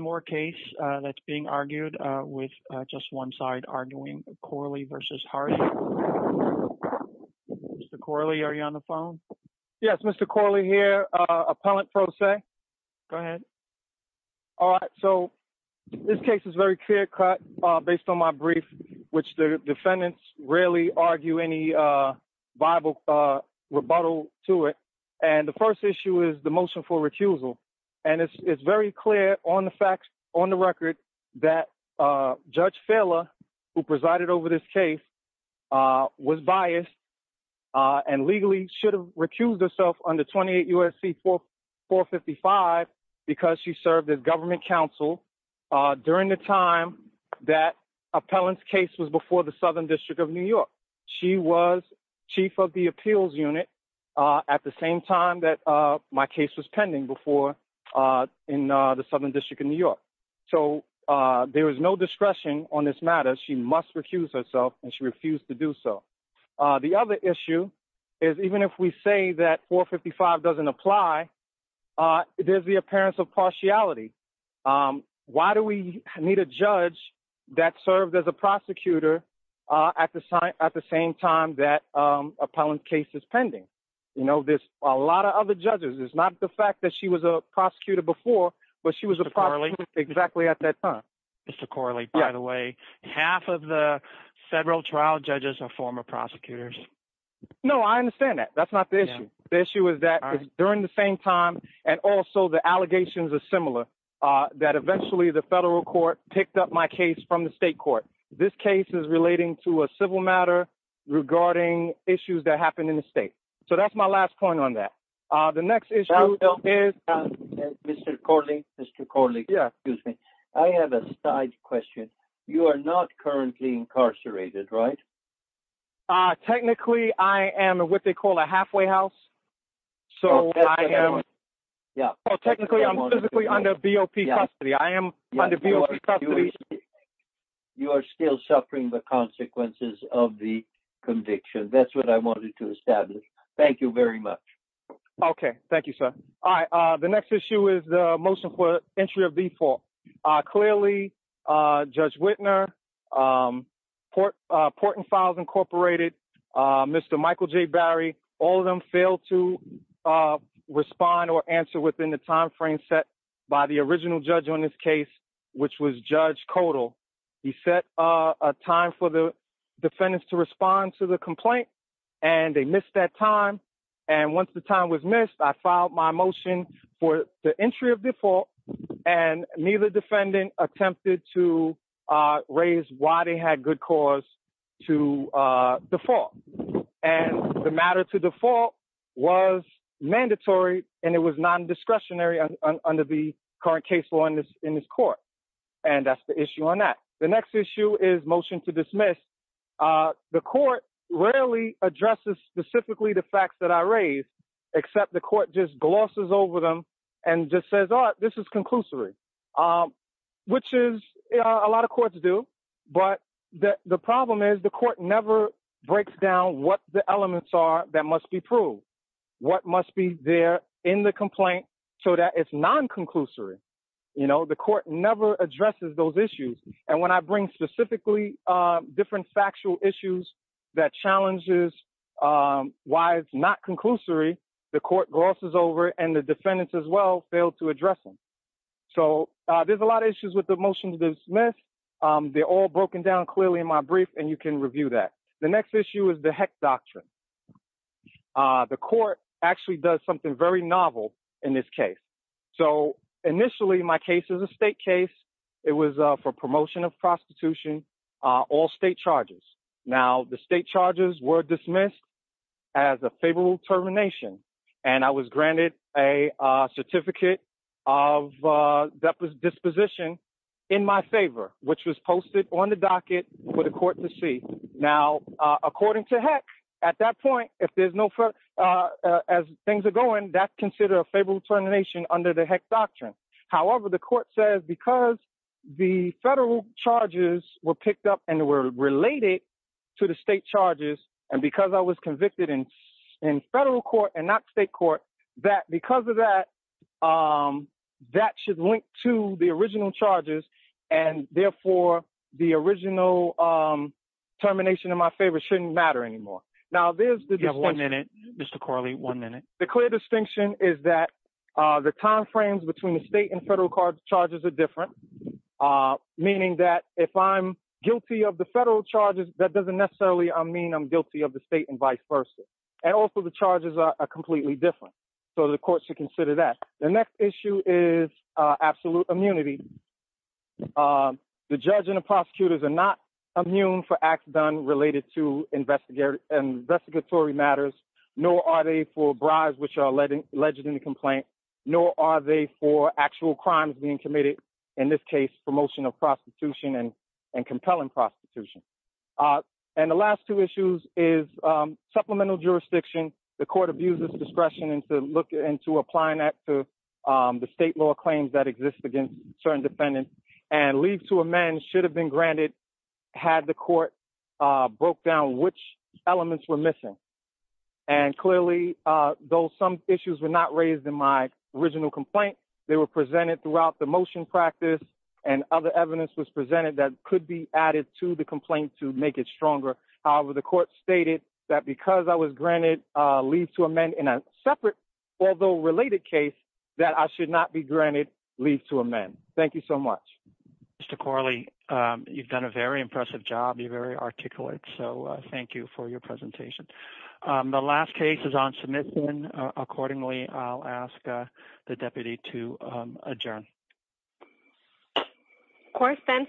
One more case that's being argued with just one side arguing, Corley v. Hardy. Mr. Corley, are you on the phone? Yes, Mr. Corley here, Appellant Pro Se. Go ahead. All right, so this case is very clear cut based on my brief, which the defendants rarely argue any viable rebuttal to it. And the first issue is the motion for recusal. And it's very clear on the facts, on the record, that Judge Fehler, who presided over this case, was biased and legally should have recused herself under 28 U.S.C. 455 because she served as government counsel during the time that Appellant's case was before the Southern District of New York. She was chief of the appeals unit at the same time that my case was pending before in the Southern District of New York. So there was no discretion on this matter. She must recuse herself, and she refused to do so. The other issue is even if we say that 455 doesn't apply, there's the appearance of partiality. Why do we need a judge that served as a prosecutor at the same time that Appellant's case is pending? You know, there's a lot of other judges. It's not the fact that she was a prosecutor before, but she was a prosecutor exactly at that time. Mr. Corley, by the way, half of the federal trial judges are former prosecutors. No, I understand that. That's not the issue. The issue is that during the same time, and also the allegations are similar, that eventually the federal court picked up my case from the state court. This case is relating to a civil matter regarding issues that happened in the state. So that's my last point on that. The next issue is— Mr. Corley, Mr. Corley, excuse me. I have a side question. You are not currently incarcerated, right? Technically, I am what they call a halfway house. So I am— Yeah. Technically, I'm physically under BOP custody. I am under BOP custody. You are still suffering the consequences of the conviction. That's what I wanted to establish. Thank you very much. Okay. Thank you, sir. All right. The next issue is the motion for entry of default. Clearly, Judge Wittner, Port and Files Incorporated, Mr. Michael J. Barry, all of them failed to respond or answer within the timeframe set by the original judge on this case, which was Judge Codal. He set a time for the defendants to respond to the complaint, and they missed that time. And once the time was missed, I filed my motion for the entry of default, and neither defendant attempted to raise why they had good cause to default. And the matter to default was mandatory, and it was non-discretionary under the current case law in this court. And that's the issue on that. The court rarely addresses specifically the facts that I raised, except the court just glosses over them and just says, oh, this is conclusory, which is a lot of courts do. But the problem is the court never breaks down what the elements are that must be proved, what must be there in the complaint so that it's non-conclusory. The court never addresses those issues. And when I bring specifically different factual issues that challenges why it's not conclusory, the court glosses over it, and the defendants as well fail to address them. So there's a lot of issues with the motion to dismiss. They're all broken down clearly in my brief, and you can review that. The next issue is the Heck Doctrine. The court actually does something very novel in this case. So initially, my case is a state case. It was for promotion of prostitution, all state charges. Now, the state charges were dismissed as a favorable termination, and I was granted a certificate of disposition in my favor, which was posted on the docket for the court to see. Now, according to Heck, at that point, as things are going, that's considered a favorable termination under the Heck Doctrine. However, the court says because the federal charges were picked up and were related to the state charges, and because I was convicted in federal court and not state court, that because of that, that should link to the original charges, and therefore the original termination in my favor shouldn't matter anymore. Now, there's the distinction. You have one minute, Mr. Corley, one minute. The clear distinction is that the time frames between the state and federal charges are different, meaning that if I'm guilty of the federal charges, that doesn't necessarily mean I'm guilty of the state and vice versa. And also, the charges are completely different, so the court should consider that. The next issue is absolute immunity. The judge and the prosecutors are not immune for acts done related to investigatory matters, nor are they for bribes which are alleged in the complaint, nor are they for actual crimes being committed, in this case, promotion of prostitution and compelling prostitution. And the last two issues is supplemental jurisdiction. The court abuses discretion into applying that to the state law claims that exist against certain defendants, and leave to amend should have been granted had the court broke down which elements were missing. And clearly, though some issues were not raised in my original complaint, they were presented throughout the motion practice, and other evidence was presented that could be added to the complaint to make it stronger. However, the court stated that because I was granted leave to amend in a separate, although related case, that I should not be granted leave to amend. Thank you so much. Mr. Corley, you've done a very impressive job. You're very articulate, so thank you for your presentation. The last case is on submission. Accordingly, I'll ask the deputy to adjourn. Court then adjourned.